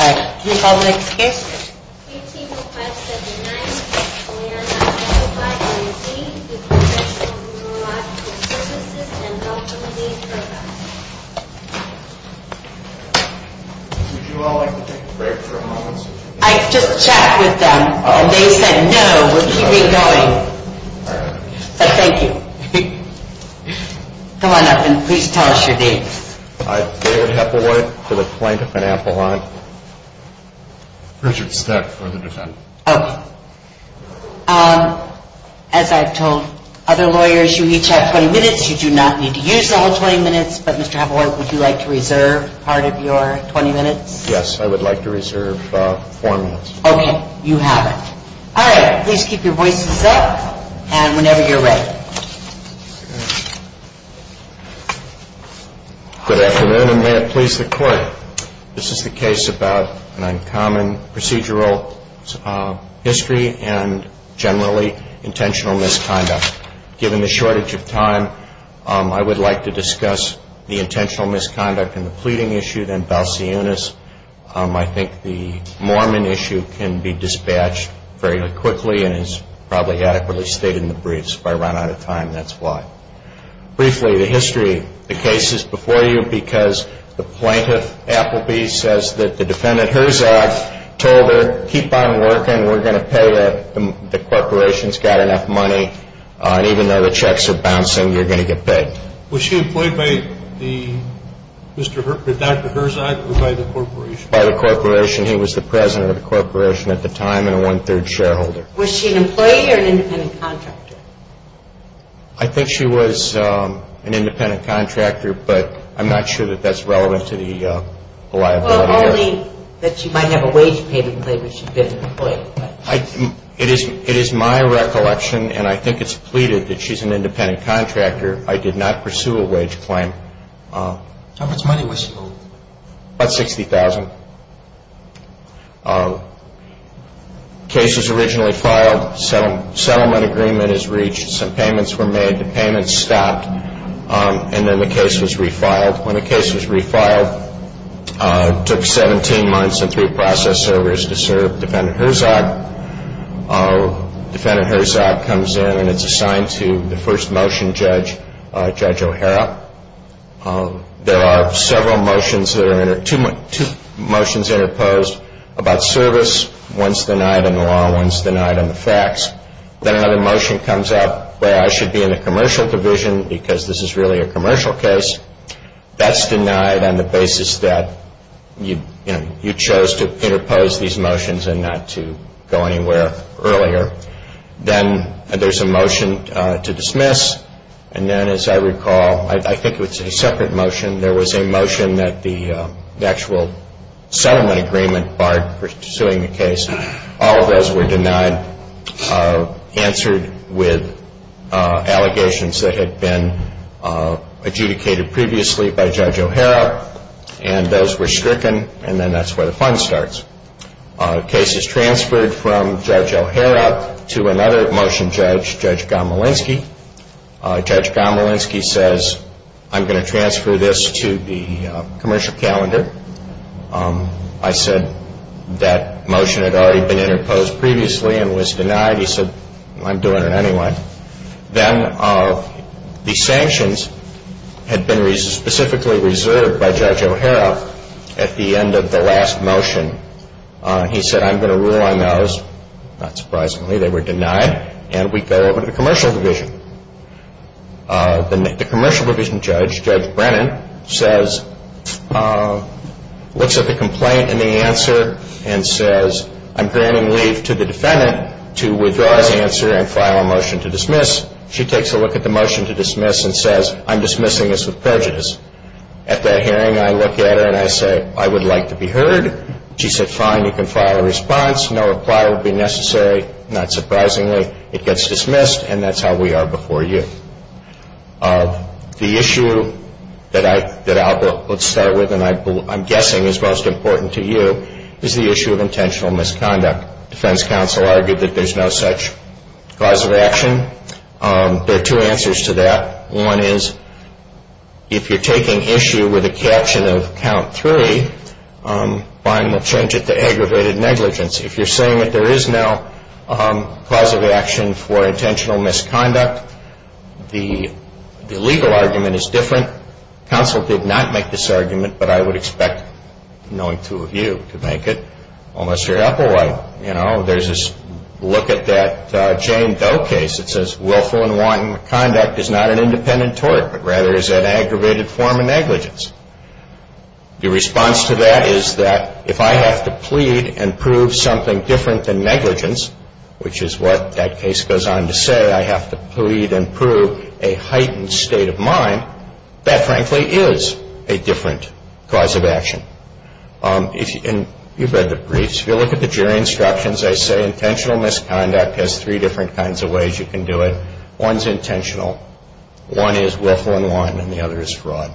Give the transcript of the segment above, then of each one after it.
All right, can you call the next case? ATO 579, we are not qualified to receive the Professional Neurological Services, Ltd. program. Would you all like to take a break for a moment? I just chatted with them, and they said no, we're keeping going. All right. So thank you. Come on up and please tell us your names. I'm David Heppelhorn for the Plaintiff and Appellant. Richard Steck for the Defendant. All right. As I've told other lawyers, you each have 20 minutes. You do not need to use the whole 20 minutes, but Mr. Heppelhorn, would you like to reserve part of your 20 minutes? Yes, I would like to reserve four minutes. Okay, you have it. All right, please keep your voices up, and whenever you're ready. Good afternoon, and may it please the Court. This is the case about an uncommon procedural history and generally intentional misconduct. Given the shortage of time, I would like to discuss the intentional misconduct in the pleading issue, then Balseonis. I think the Mormon issue can be dispatched very quickly and is probably adequately stated in the briefs. If I run out of time, that's why. Briefly, the history of the case is before you because the plaintiff, Appleby, says that the defendant, Herzog, told her, keep on working, we're going to pay you, the corporation's got enough money, and even though the checks are bouncing, you're going to get paid. Was she employed by Dr. Herzog or by the corporation? By the corporation. He was the president of the corporation at the time and a one-third shareholder. Was she an employee or an independent contractor? I think she was an independent contractor, but I'm not sure that that's relevant to the liability. Well, only that she might have a wage payment that she didn't employ. It is my recollection, and I think it's pleaded, that she's an independent contractor. I did not pursue a wage claim. How much money was she owed? About $60,000. Case was originally filed. Settlement agreement is reached. Some payments were made. The payments stopped, and then the case was refiled. When the case was refiled, it took 17 months and three process errors to serve Defendant Herzog. Defendant Herzog comes in, and it's assigned to the first motion judge, Judge O'Hara. There are two motions interposed about service. One's denied in the law. One's denied in the facts. Then another motion comes up where I should be in the commercial division because this is really a commercial case. That's denied on the basis that you chose to interpose these motions and not to go anywhere earlier. Then there's a motion to dismiss, and then, as I recall, I think it was a separate motion. There was a motion that the actual settlement agreement barred pursuing the case. All of those were denied, answered with allegations that had been adjudicated previously by Judge O'Hara, and those were stricken, and then that's where the fun starts. Case is transferred from Judge O'Hara to another motion judge, Judge Gomolinsky. Judge Gomolinsky says, I'm going to transfer this to the commercial calendar. I said that motion had already been interposed previously and was denied. He said, I'm doing it anyway. Then the sanctions had been specifically reserved by Judge O'Hara at the end of the last motion. He said, I'm going to rule on those. Not surprisingly, they were denied, and we go over to the commercial division. The commercial division judge, Judge Brennan, looks at the complaint and the answer and says, I'm granting leave to the defendant to withdraw his answer and file a motion to dismiss. She takes a look at the motion to dismiss and says, I'm dismissing this with prejudice. At that hearing, I look at her and I say, I would like to be heard. She said, fine, you can file a response. No reply will be necessary. Not surprisingly, it gets dismissed, and that's how we are before you. The issue that I'll start with and I'm guessing is most important to you is the issue of intentional misconduct. Defense counsel argued that there's no such cause of action. There are two answers to that. One is, if you're taking issue with a caption of count three, fine, we'll change it to aggravated negligence. If you're saying that there is no cause of action for intentional misconduct, the legal argument is different. Counsel did not make this argument, but I would expect, knowing two of you, to make it. Unless you're Applewhite. There's this look at that Jane Doe case that says willful and wanton conduct is not an independent tort, but rather is an aggravated form of negligence. The response to that is that if I have to plead and prove something different than negligence, which is what that case goes on to say, I have to plead and prove a heightened state of mind, that frankly is a different cause of action. You've read the briefs. If you look at the jury instructions, they say intentional misconduct has three different kinds of ways you can do it. One is intentional. One is willful and wanton, and the other is fraud.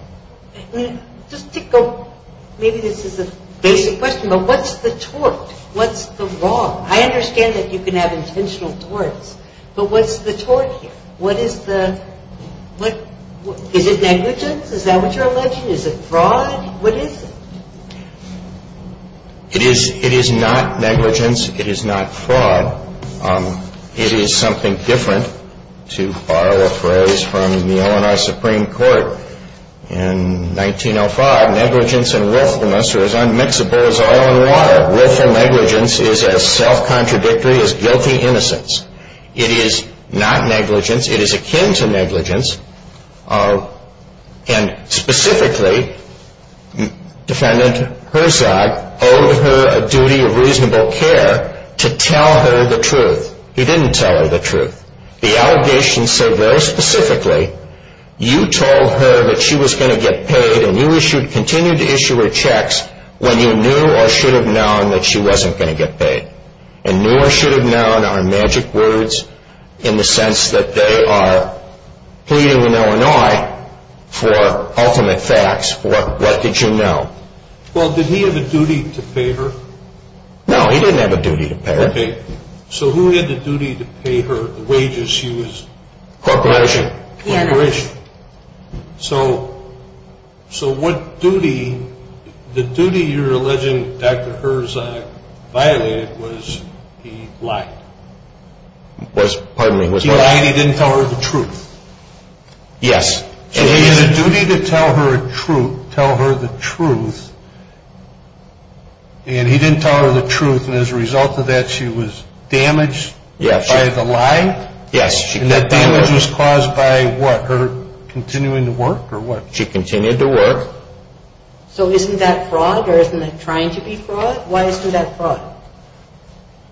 Just to go, maybe this is a basic question, but what's the tort? What's the wrong? I understand that you can have intentional torts, but what's the tort here? What is the, is it negligence? Is that what you're alleging? Is it fraud? What is it? It is not negligence. It is not fraud. It is something different. To borrow a phrase from the Illinois Supreme Court in 1905, negligence and willfulness are as unmixable as oil and water. Willful negligence is as self-contradictory as guilty innocence. It is not negligence. It is akin to negligence, and specifically, defendant Herzog owed her a duty of reasonable care to tell her the truth. He didn't tell her the truth. The allegations say very specifically, you told her that she was going to get paid, and you continued to issue her checks when you knew or should have known that she wasn't going to get paid, and knew or should have known are magic words in the sense that they are pleading in Illinois for ultimate facts, what did you know? Well, did he have a duty to pay her? No, he didn't have a duty to pay her. Okay. So who had the duty to pay her the wages she was? Corporation. Corporation. So, so what duty, the duty you're alleging Dr. Herzog violated was he lied. Was, pardon me, was he lied? He lied, he didn't tell her the truth. Yes. And he had a duty to tell her the truth, and he didn't tell her the truth, and as a result of that she was damaged by the lie? Yes. And that damage was caused by what, her continuing to work or what? She continued to work. So isn't that fraud or isn't that trying to be fraud? Why isn't that fraud?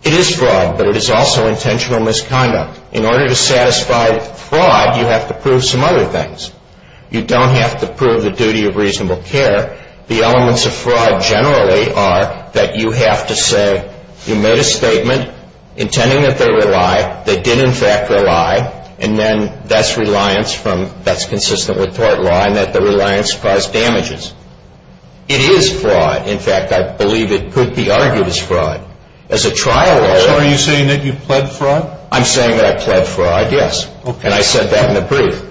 It is fraud, but it is also intentional misconduct. In order to satisfy fraud you have to prove some other things. You don't have to prove the duty of reasonable care. The elements of fraud generally are that you have to say you made a statement intending that they were a lie, they did in fact were a lie, and then that's reliance from, that's consistent with tort law, and that the reliance caused damages. It is fraud. In fact, I believe it could be argued as fraud. As a trial lawyer. So are you saying that you pled fraud? I'm saying that I pled fraud, yes. Okay. And I said that in the brief.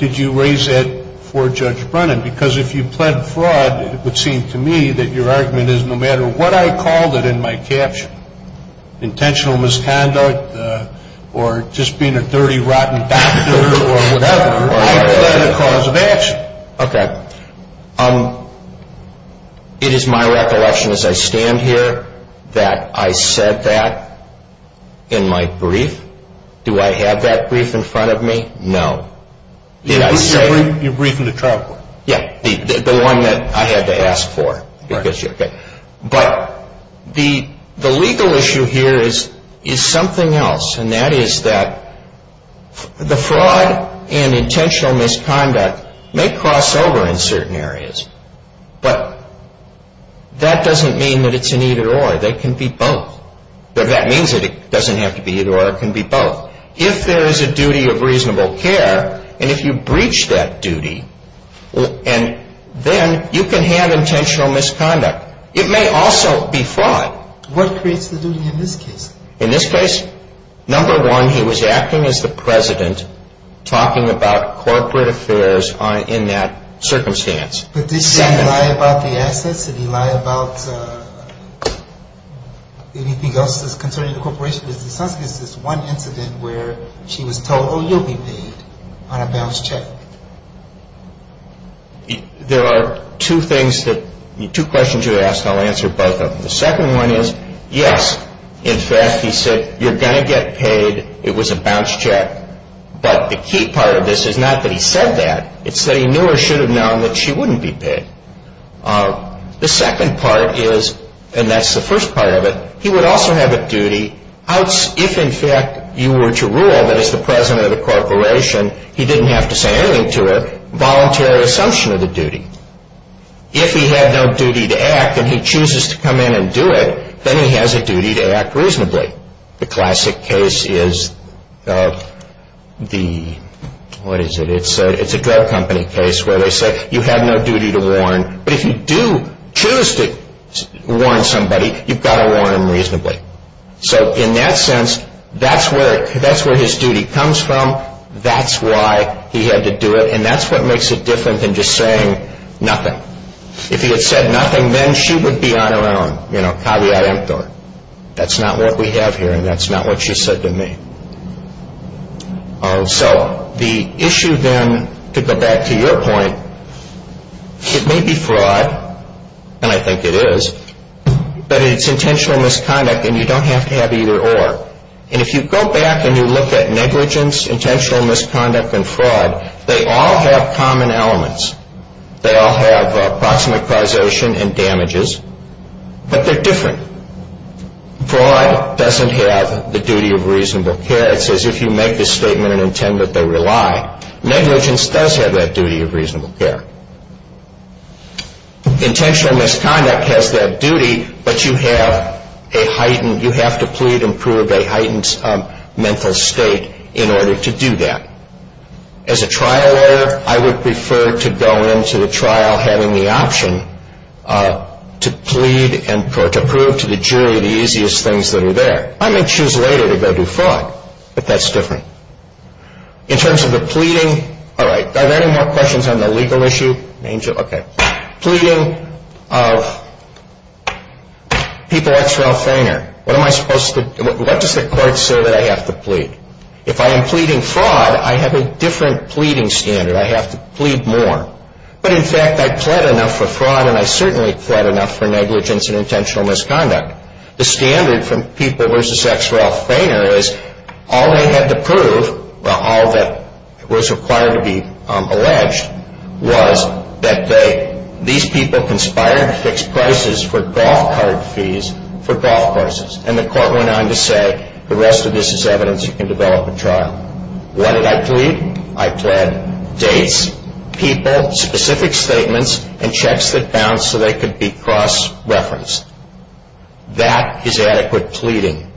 Did you raise that for Judge Brennan? Because if you pled fraud it would seem to me that your argument is no matter what I called it in my caption, intentional misconduct or just being a dirty, rotten doctor or whatever, I pled a cause of action. Okay. It is my recollection as I stand here that I said that in my brief. Do I have that brief in front of me? No. You're briefing the trial court. Yeah, the one that I had to ask for. Right. But the legal issue here is something else, and that is that the fraud and intentional misconduct may cross over in certain areas, but that doesn't mean that it's an either or. They can be both. That means that it doesn't have to be either or, it can be both. If there is a duty of reasonable care, and if you breach that duty, then you can have intentional misconduct. It may also be fraud. What creates the duty in this case? In this case, number one, he was acting as the president talking about corporate affairs in that circumstance. But did he lie about the assets? Did he lie about anything else that's concerning the corporation? Because it sounds like it's just one incident where she was told, oh, you'll be paid on a balance check. There are two things that, two questions you asked, and I'll answer both of them. The second one is, yes, in fact, he said, you're going to get paid. It was a balance check. But the key part of this is not that he said that. It's that he knew or should have known that she wouldn't be paid. The second part is, and that's the first part of it, he would also have a duty, if in fact you were to rule that as the president of the corporation, he didn't have to say anything to her, voluntary assumption of the duty. If he had no duty to act and he chooses to come in and do it, then he has a duty to act reasonably. The classic case is the, what is it? It's a drug company case where they say, you have no duty to warn. But if you do choose to warn somebody, you've got to warn them reasonably. So in that sense, that's where his duty comes from. That's why he had to do it. And that's what makes it different than just saying nothing. If he had said nothing, then she would be on her own. You know, caveat emptor. That's not what we have here, and that's not what she said to me. So the issue then, to go back to your point, it may be fraud, and I think it is, but it's intentional misconduct, and you don't have to have either or. And if you go back and you look at negligence, intentional misconduct, and fraud, they all have common elements. They all have approximate causation and damages, but they're different. Fraud doesn't have the duty of reasonable care. It's as if you make a statement and intend that they rely. Negligence does have that duty of reasonable care. Intentional misconduct has that duty, but you have a heightened, a heightened mental state in order to do that. As a trial lawyer, I would prefer to go into the trial having the option to plead or to prove to the jury the easiest things that are there. I may choose later to go do fraud, but that's different. In terms of the pleading, all right, are there any more questions on the legal issue? Angel, okay. Pleading of people ex relf reiner. What am I supposed to do? What does the court say that I have to plead? If I am pleading fraud, I have a different pleading standard. I have to plead more. But, in fact, I pled enough for fraud, and I certainly pled enough for negligence and intentional misconduct. The standard from people versus ex relf reiner is all they had to prove, all that was required to be alleged, was that these people conspired to fix prices for golf cart fees for golf courses, and the court went on to say, the rest of this is evidence you can develop in trial. What did I plead? I pled dates, people, specific statements, and checks that bounced so they could be cross-referenced. That is adequate pleading.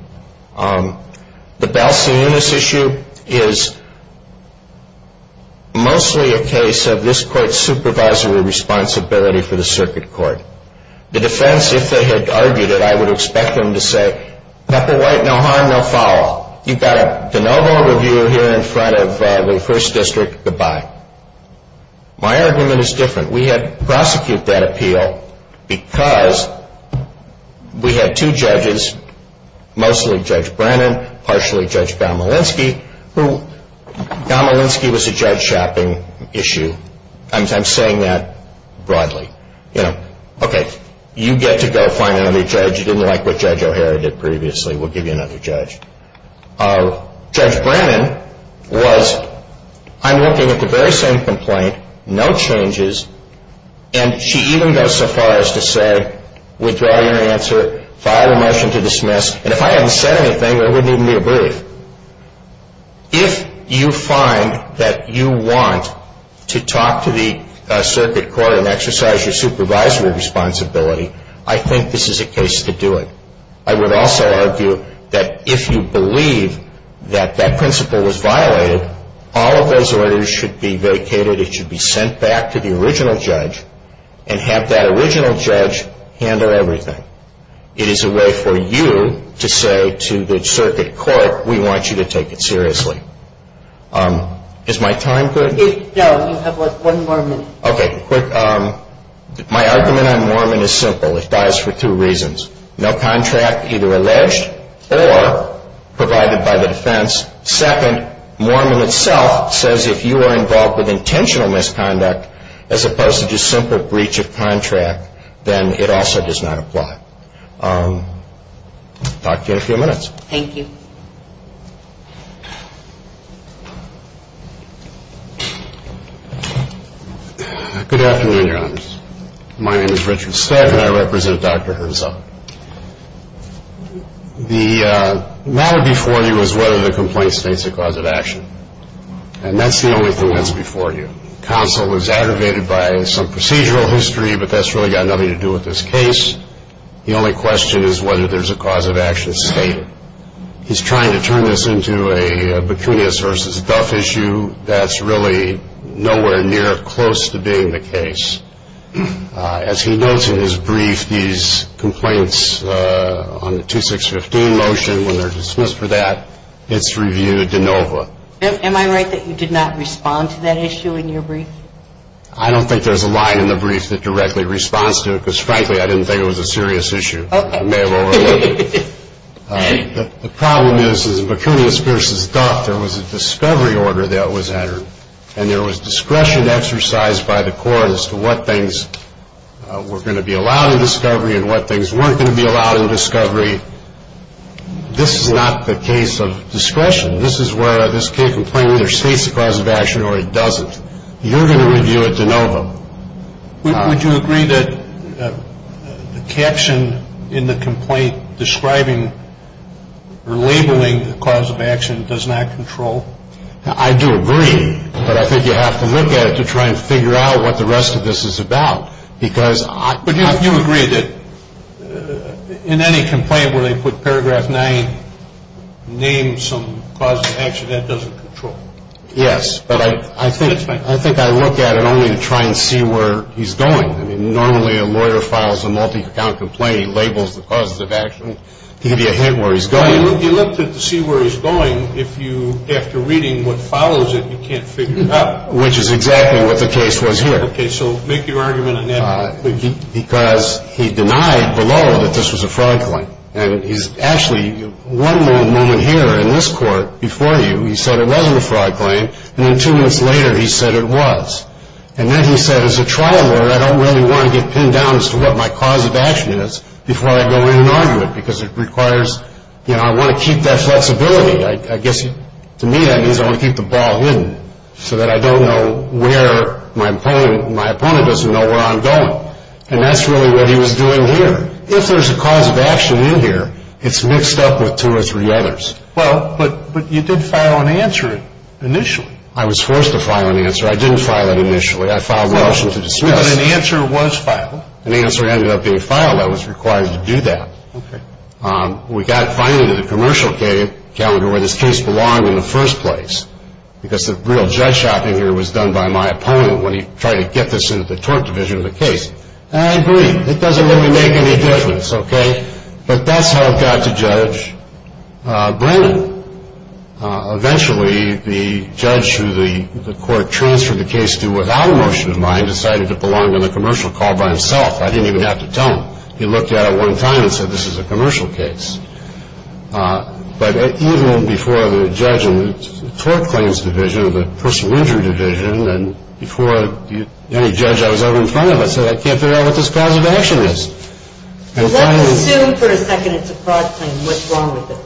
The Belsen Eunice issue is mostly a case of this court's supervisory responsibility for the circuit court. The defense, if they had argued it, I would expect them to say, black or white, no harm, no foul. You've got a de novo review here in front of the first district. Goodbye. My argument is different. We had prosecuted that appeal because we had two judges, mostly Judge Brennan, partially Judge Gomolinski, who, Gomolinski was a judge shopping issue. I'm saying that broadly. Okay, you get to go find another judge. You didn't like what Judge O'Hara did previously. We'll give you another judge. Judge Brennan was, I'm looking at the very same complaint, no changes, and she even goes so far as to say, withdraw your answer, file a motion to dismiss, and if I hadn't said anything, there wouldn't even be a brief. If you find that you want to talk to the circuit court and exercise your supervisory responsibility, I think this is a case to do it. I would also argue that if you believe that that principle was violated, all of those orders should be vacated. It should be sent back to the original judge and have that original judge handle everything. It is a way for you to say to the circuit court, we want you to take it seriously. Is my time good? No, you have one more minute. Okay, quick. My argument on Mormon is simple. It dies for two reasons. No contract, either alleged or provided by the defense. Second, Mormon itself says if you are involved with intentional misconduct, as opposed to just simple breach of contract, then it also does not apply. Talk to you in a few minutes. Thank you. Good afternoon, Your Honors. My name is Richard Stack, and I represent Dr. Herzog. The matter before you is whether the complaint states a cause of action, and that's the only thing that's before you. Counsel was aggravated by some procedural history, but that's really got nothing to do with this case. The only question is whether there's a cause of action stated. He's trying to turn this into a Bacchinius versus Duff issue. That's really nowhere near close to being the case. As he notes in his brief, these complaints on the 2615 motion, when they're dismissed for that, it's reviewed de novo. Am I right that you did not respond to that issue in your brief? I don't think there's a line in the brief that directly responds to it, because, frankly, I didn't think it was a serious issue. I may have overlooked it. The problem is, in Bacchinius versus Duff, there was a discovery order that was entered, and there was discretion exercised by the court as to what things were going to be allowed in discovery and what things weren't going to be allowed in discovery. This is not the case of discretion. This is where this complaint either states a cause of action or it doesn't. You're going to review it de novo. Would you agree that the caption in the complaint describing or labeling the cause of action does not control? I do agree, but I think you have to look at it to try and figure out what the rest of this is about. But you agree that in any complaint where they put paragraph nine, name some cause of action, that doesn't control? Yes, but I think I look at it only to try and see where he's going. I mean, normally a lawyer files a multi-account complaint. He labels the causes of action. He can give you a hint where he's going. You look to see where he's going. If you, after reading what follows it, you can't figure it out. Which is exactly what the case was here. Okay, so make your argument on that. Because he denied below that this was a fraud claim. And he's actually, one moment here in this court before you, he said it wasn't a fraud claim. And then two minutes later he said it was. And then he said, as a trial lawyer, I don't really want to get pinned down as to what my cause of action is before I go in and argue it because it requires, you know, I want to keep that flexibility. I guess to me that means I want to keep the ball hidden so that I don't know where my opponent doesn't know where I'm going. And that's really what he was doing here. If there's a cause of action in here, it's mixed up with two or three others. Well, but you did file an answer initially. I was forced to file an answer. I didn't file it initially. I filed an option to discuss. But an answer was filed. An answer ended up being filed. I was required to do that. Okay. We got finally to the commercial calendar where this case belonged in the first place because the real judge shopping here was done by my opponent when he tried to get this into the tort division of the case. And I agree. It doesn't really make any difference, okay? But that's how it got to Judge Brennan. Eventually, the judge who the court transferred the case to without a motion in mind decided it belonged on the commercial call by himself. I didn't even have to tell him. He looked at it one time and said this is a commercial case. But even before the judge in the tort claims division or the personal injury division and before any judge I was over in front of, I said I can't figure out what this cause of action is. Let's assume for a second it's a fraud claim. What's wrong with it?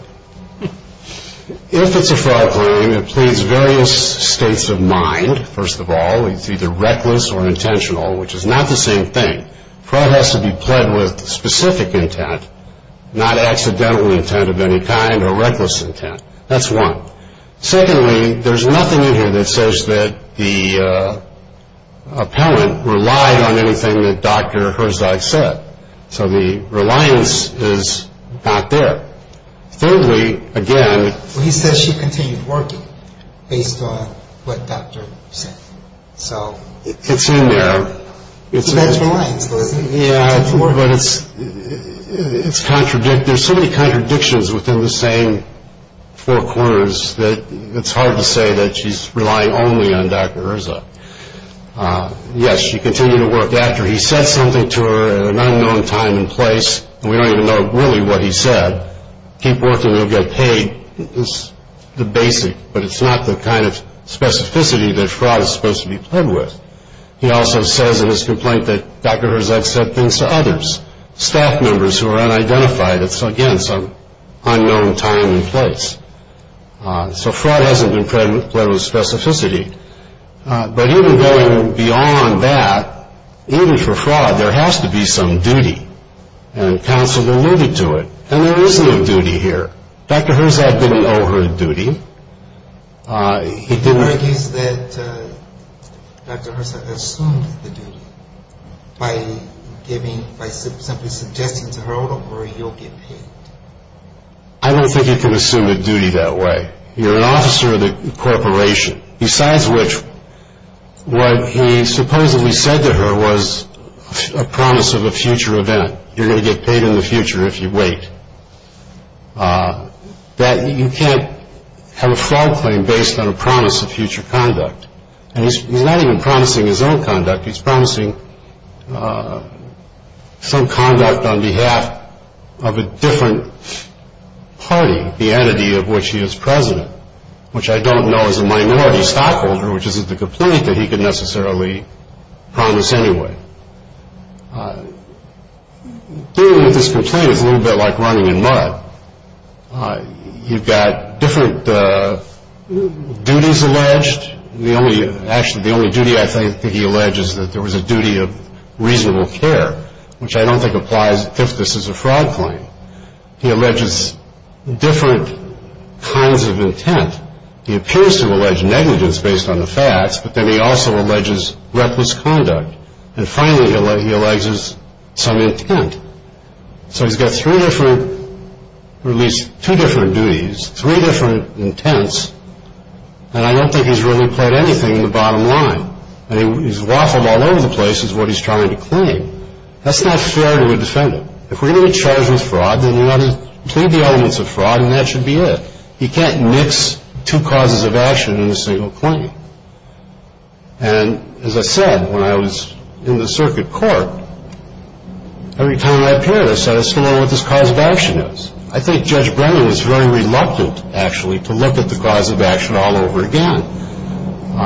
If it's a fraud claim, it pleads various states of mind, first of all. It's either reckless or intentional, which is not the same thing. Fraud has to be pled with specific intent, not accidental intent of any kind or reckless intent. That's one. Secondly, there's nothing in here that says that the appellant relied on anything that Dr. Herzog said. So the reliance is not there. Thirdly, again. He says she continued working based on what Dr. Herzog said. So it's in there. He has reliance, doesn't he? Yeah, but it's contradictory. There's so many contradictions within the same four corners that it's hard to say that she's relying only on Dr. Herzog. Yes, she continued to work after he said something to her at an unknown time and place. We don't even know really what he said. Keep working, you'll get paid is the basic. But it's not the kind of specificity that fraud is supposed to be pled with. He also says in his complaint that Dr. Herzog said things to others, staff members who are unidentified. It's, again, some unknown time and place. So fraud hasn't been pled with specificity. But even going beyond that, even for fraud, there has to be some duty. And counsel alluded to it, and there is no duty here. Dr. Herzog didn't owe her a duty. He argues that Dr. Herzog assumed the duty by simply suggesting to her, don't worry, you'll get paid. I don't think you can assume a duty that way. You're an officer of the corporation. Besides which, what he supposedly said to her was a promise of a future event. You're going to get paid in the future if you wait. That you can't have a fraud claim based on a promise of future conduct. And he's not even promising his own conduct. He's promising some conduct on behalf of a different party, the entity of which he is president, which I don't know is a minority stockholder, which isn't the complaint that he could necessarily promise anyway. Dealing with this complaint is a little bit like running in mud. You've got different duties alleged. Actually, the only duty I think that he alleges that there was a duty of reasonable care, which I don't think applies if this is a fraud claim. He alleges different kinds of intent. He appears to have alleged negligence based on the facts, but then he also alleges reckless conduct. And finally, he alleges some intent. So he's got three different, or at least two different duties, three different intents, and I don't think he's really pled anything in the bottom line. He's waffled all over the place is what he's trying to claim. That's not fair to a defendant. If we're going to be charged with fraud, then we ought to plead the elements of fraud, and that should be it. You can't mix two causes of action in a single claim. And as I said, when I was in the circuit court, every time I appeared, I said, I still don't know what this cause of action is. I think Judge Brennan was very reluctant, actually, to look at the cause of action all over again.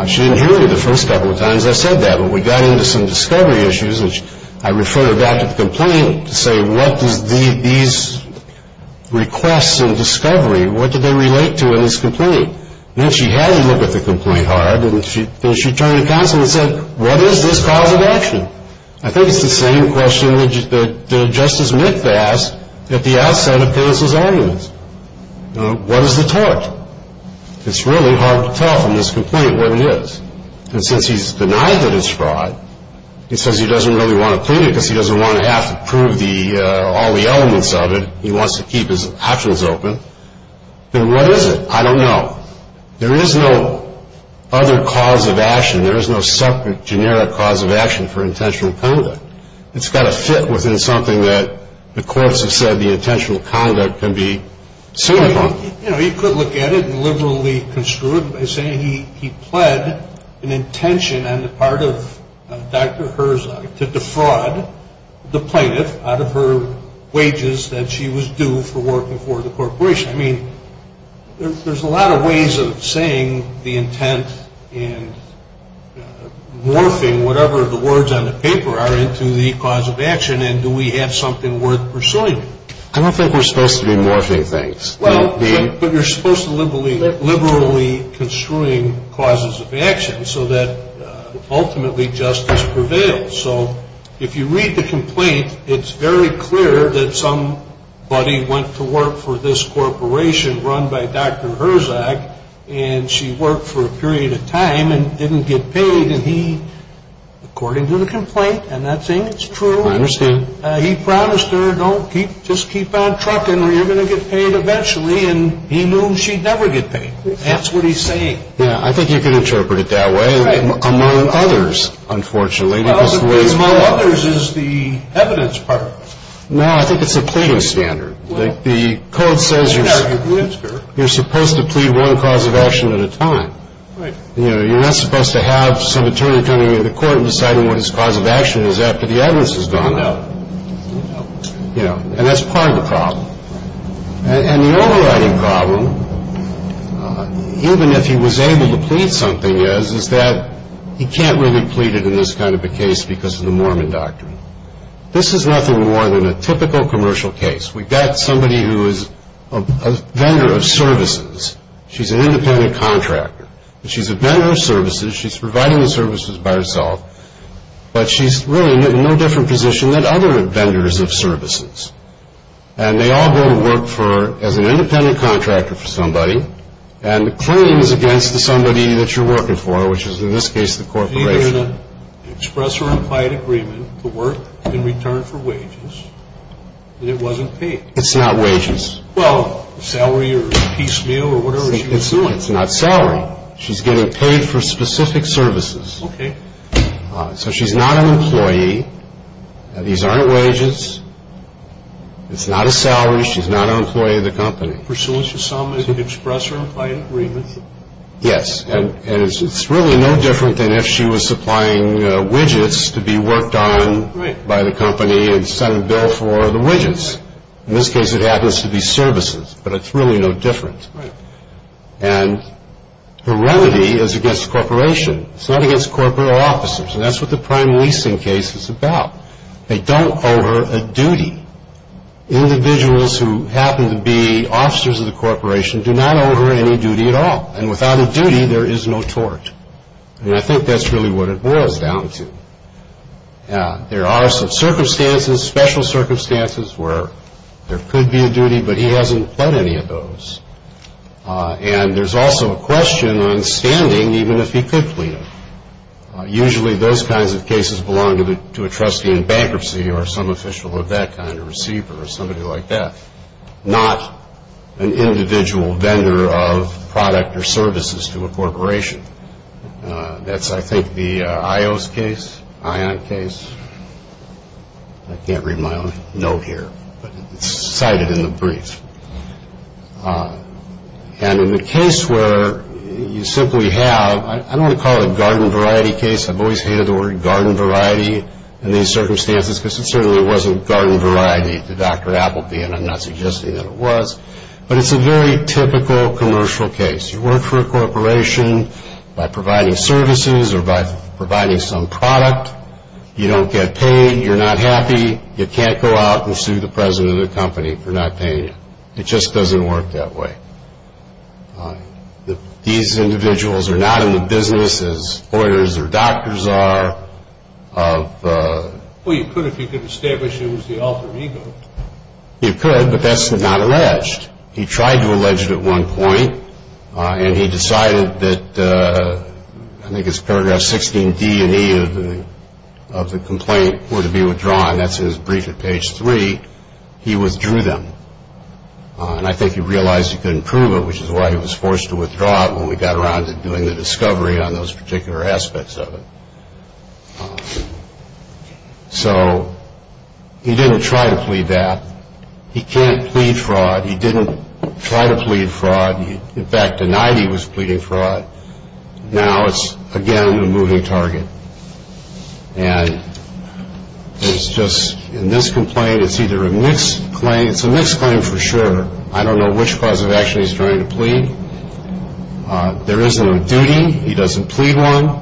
She didn't hear me the first couple of times I said that, but we got into some discovery issues, and I referred her back to the complaint to say, what do these requests and discovery, what do they relate to in this complaint? And then she had me look at the complaint hard, and then she turned to counsel and said, what is this cause of action? I think it's the same question that Justice Mink asked at the outset of Curtis' arguments. What is the tort? It's really hard to tell from this complaint what it is. And since he's denied that it's fraud, he says he doesn't really want to plead it because he doesn't want to have to prove all the elements of it. He wants to keep his options open. Then what is it? I don't know. There is no other cause of action. There is no separate, generic cause of action for intentional conduct. It's got to fit within something that the courts have said the intentional conduct can be seen upon. You could look at it and liberally construe it by saying he pled an intention on the part of Dr. Herzog to defraud the plaintiff out of her wages that she was due for working for the corporation. I mean, there's a lot of ways of saying the intent and morphing whatever the words on the paper are into the cause of action, and do we have something worth pursuing? I don't think we're supposed to be morphing things. But you're supposed to be liberally construing causes of action so that ultimately justice prevails. If you read the complaint, it's very clear that somebody went to work for this corporation run by Dr. Herzog and she worked for a period of time and didn't get paid. According to the complaint, and that's true, he promised her, just keep on trucking or you're going to get paid eventually, and he knew she'd never get paid. That's what he's saying. I think you can interpret it that way, among others, unfortunately. Among others is the evidence part. No, I think it's a pleading standard. The code says you're supposed to plead one cause of action at a time. You're not supposed to have some attorney coming into court and deciding what his cause of action is after the evidence has gone out. And that's part of the problem. And the overriding problem, even if he was able to plead something, is that he can't really plead it in this kind of a case because of the Mormon doctrine. This is nothing more than a typical commercial case. We've got somebody who is a vendor of services. She's an independent contractor. She's a vendor of services. She's providing the services by herself, but she's really in no different position than other vendors of services. And they all go to work as an independent contractor for somebody, and the claim is against the somebody that you're working for, which is in this case the corporation. It's either an express or implied agreement to work in return for wages, and it wasn't paid. It's not wages. Well, salary or piecemeal or whatever she was doing. It's not salary. She's getting paid for specific services. Okay. So she's not an employee. These aren't wages. It's not a salary. She's not an employee of the company. Is it pursuant to some express or implied agreement? Yes, and it's really no different than if she was supplying widgets to be worked on by the company and sent a bill for the widgets. In this case, it happens to be services, but it's really no different. Right. And her remedy is against the corporation. It's not against corporate officers, and that's what the prime leasing case is about. They don't owe her a duty. Individuals who happen to be officers of the corporation do not owe her any duty at all, and without a duty, there is no tort. And I think that's really what it boils down to. There are some circumstances, special circumstances, where there could be a duty, but he hasn't pled any of those. And there's also a question on standing even if he could plead them. Usually, those kinds of cases belong to a trustee in bankruptcy or some official of that kind, a receiver or somebody like that, not an individual vendor of product or services to a corporation. That's, I think, the IO's case, ION case. I can't read my own note here, but it's cited in the brief. And in the case where you simply have, I'm going to call it garden variety case. I've always hated the word garden variety in these circumstances because it certainly wasn't garden variety to Dr. Appleby, and I'm not suggesting that it was. But it's a very typical commercial case. You work for a corporation by providing services or by providing some product. You don't get paid. You're not happy. You can't go out and sue the president of the company for not paying you. It just doesn't work that way. These individuals are not in the business as lawyers or doctors are. Well, you could if you could establish it was the alter ego. You could, but that's not alleged. He tried to allege it at one point, and he decided that, I think it's paragraph 16D and E of the complaint were to be withdrawn. That's his brief at page three. He withdrew them. And I think he realized he couldn't prove it, which is why he was forced to withdraw it when we got around to doing the discovery on those particular aspects of it. So he didn't try to plead that. He can't plead fraud. He didn't try to plead fraud. In fact, denied he was pleading fraud. Now it's, again, a moving target. And it's just in this complaint, it's either a mixed claim. It's a mixed claim for sure. I don't know which cause of action he's trying to plead. There isn't a duty. He doesn't plead one.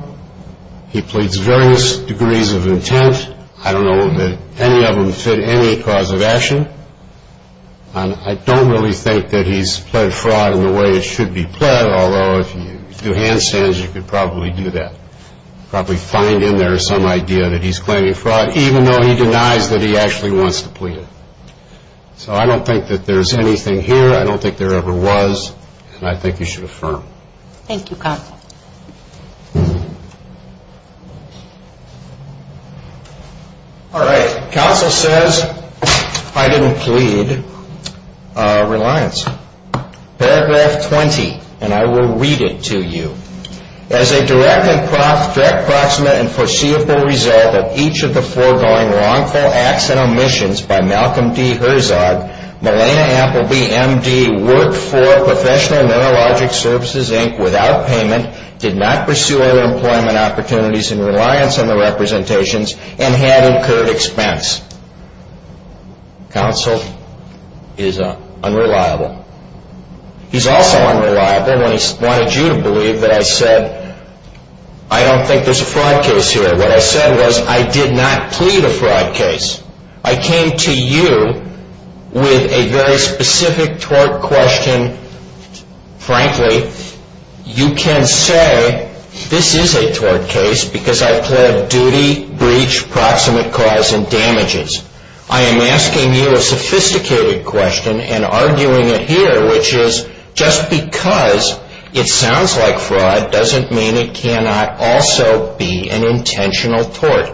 He pleads various degrees of intent. I don't know that any of them fit any cause of action. And I don't really think that he's pled fraud in the way it should be pled, although if you do handstands, you could probably do that, probably find in there some idea that he's claiming fraud, even though he denies that he actually wants to plead it. So I don't think that there's anything here. I don't think there ever was. And I think he should affirm. Thank you, Counsel. All right. Counsel says I didn't plead reliance. Paragraph 20, and I will read it to you. As a direct and proximate and foreseeable result of each of the foregoing wrongful acts and omissions by Malcolm D. Herzog, Melana Appleby, M.D., worked for Professional Neurologic Services, Inc. without payment, did not pursue other employment opportunities in reliance on the representations, and had incurred expense. Counsel is unreliable. He's also unreliable when he wanted you to believe that I said, I don't think there's a fraud case here. What I said was I did not plead a fraud case. I came to you with a very specific tort question. Frankly, you can say this is a tort case because I plead duty, breach, proximate cause, and damages. I am asking you a sophisticated question and arguing it here, which is just because it sounds like fraud doesn't mean it cannot also be an intentional tort.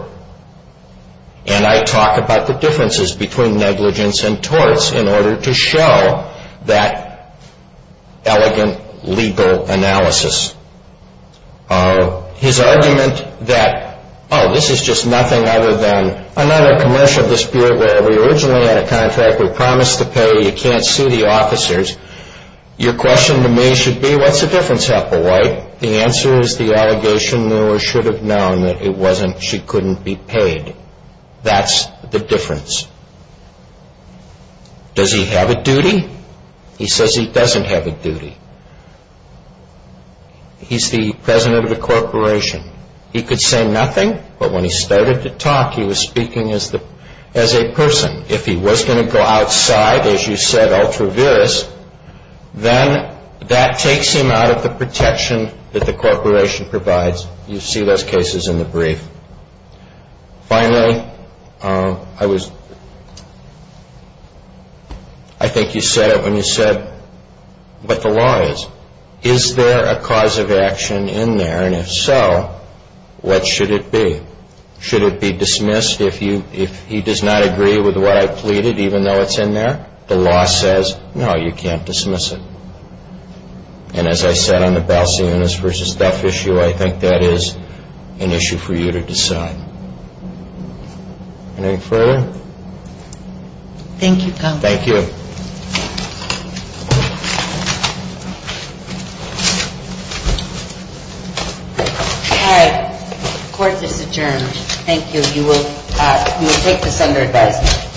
And I talk about the differences between negligence and torts in order to show that elegant legal analysis. His argument that, oh, this is just nothing other than another commercial of this beer where we originally had a contract, we promised to pay, you can't sue the officers. Your question to me should be, what's the difference, Applewhite? The answer is the allegation the lawyer should have known that it wasn't, she couldn't be paid. That's the difference. Does he have a duty? He says he doesn't have a duty. He's the president of the corporation. He could say nothing, but when he started to talk, he was speaking as a person. If he was going to go outside, as you said, ultra-virus, then that takes him out of the protection that the corporation provides. You see those cases in the brief. Finally, I think you said it when you said what the law is. Is there a cause of action in there? And if so, what should it be? Should it be dismissed if he does not agree with what I pleaded, even though it's in there? The law says, no, you can't dismiss it. And as I said on the Balcionis v. Duff issue, I think that is an issue for you to decide. Anything further? Thank you, counsel. Thank you. All right, court is adjourned. Thank you. You will take this under advisement.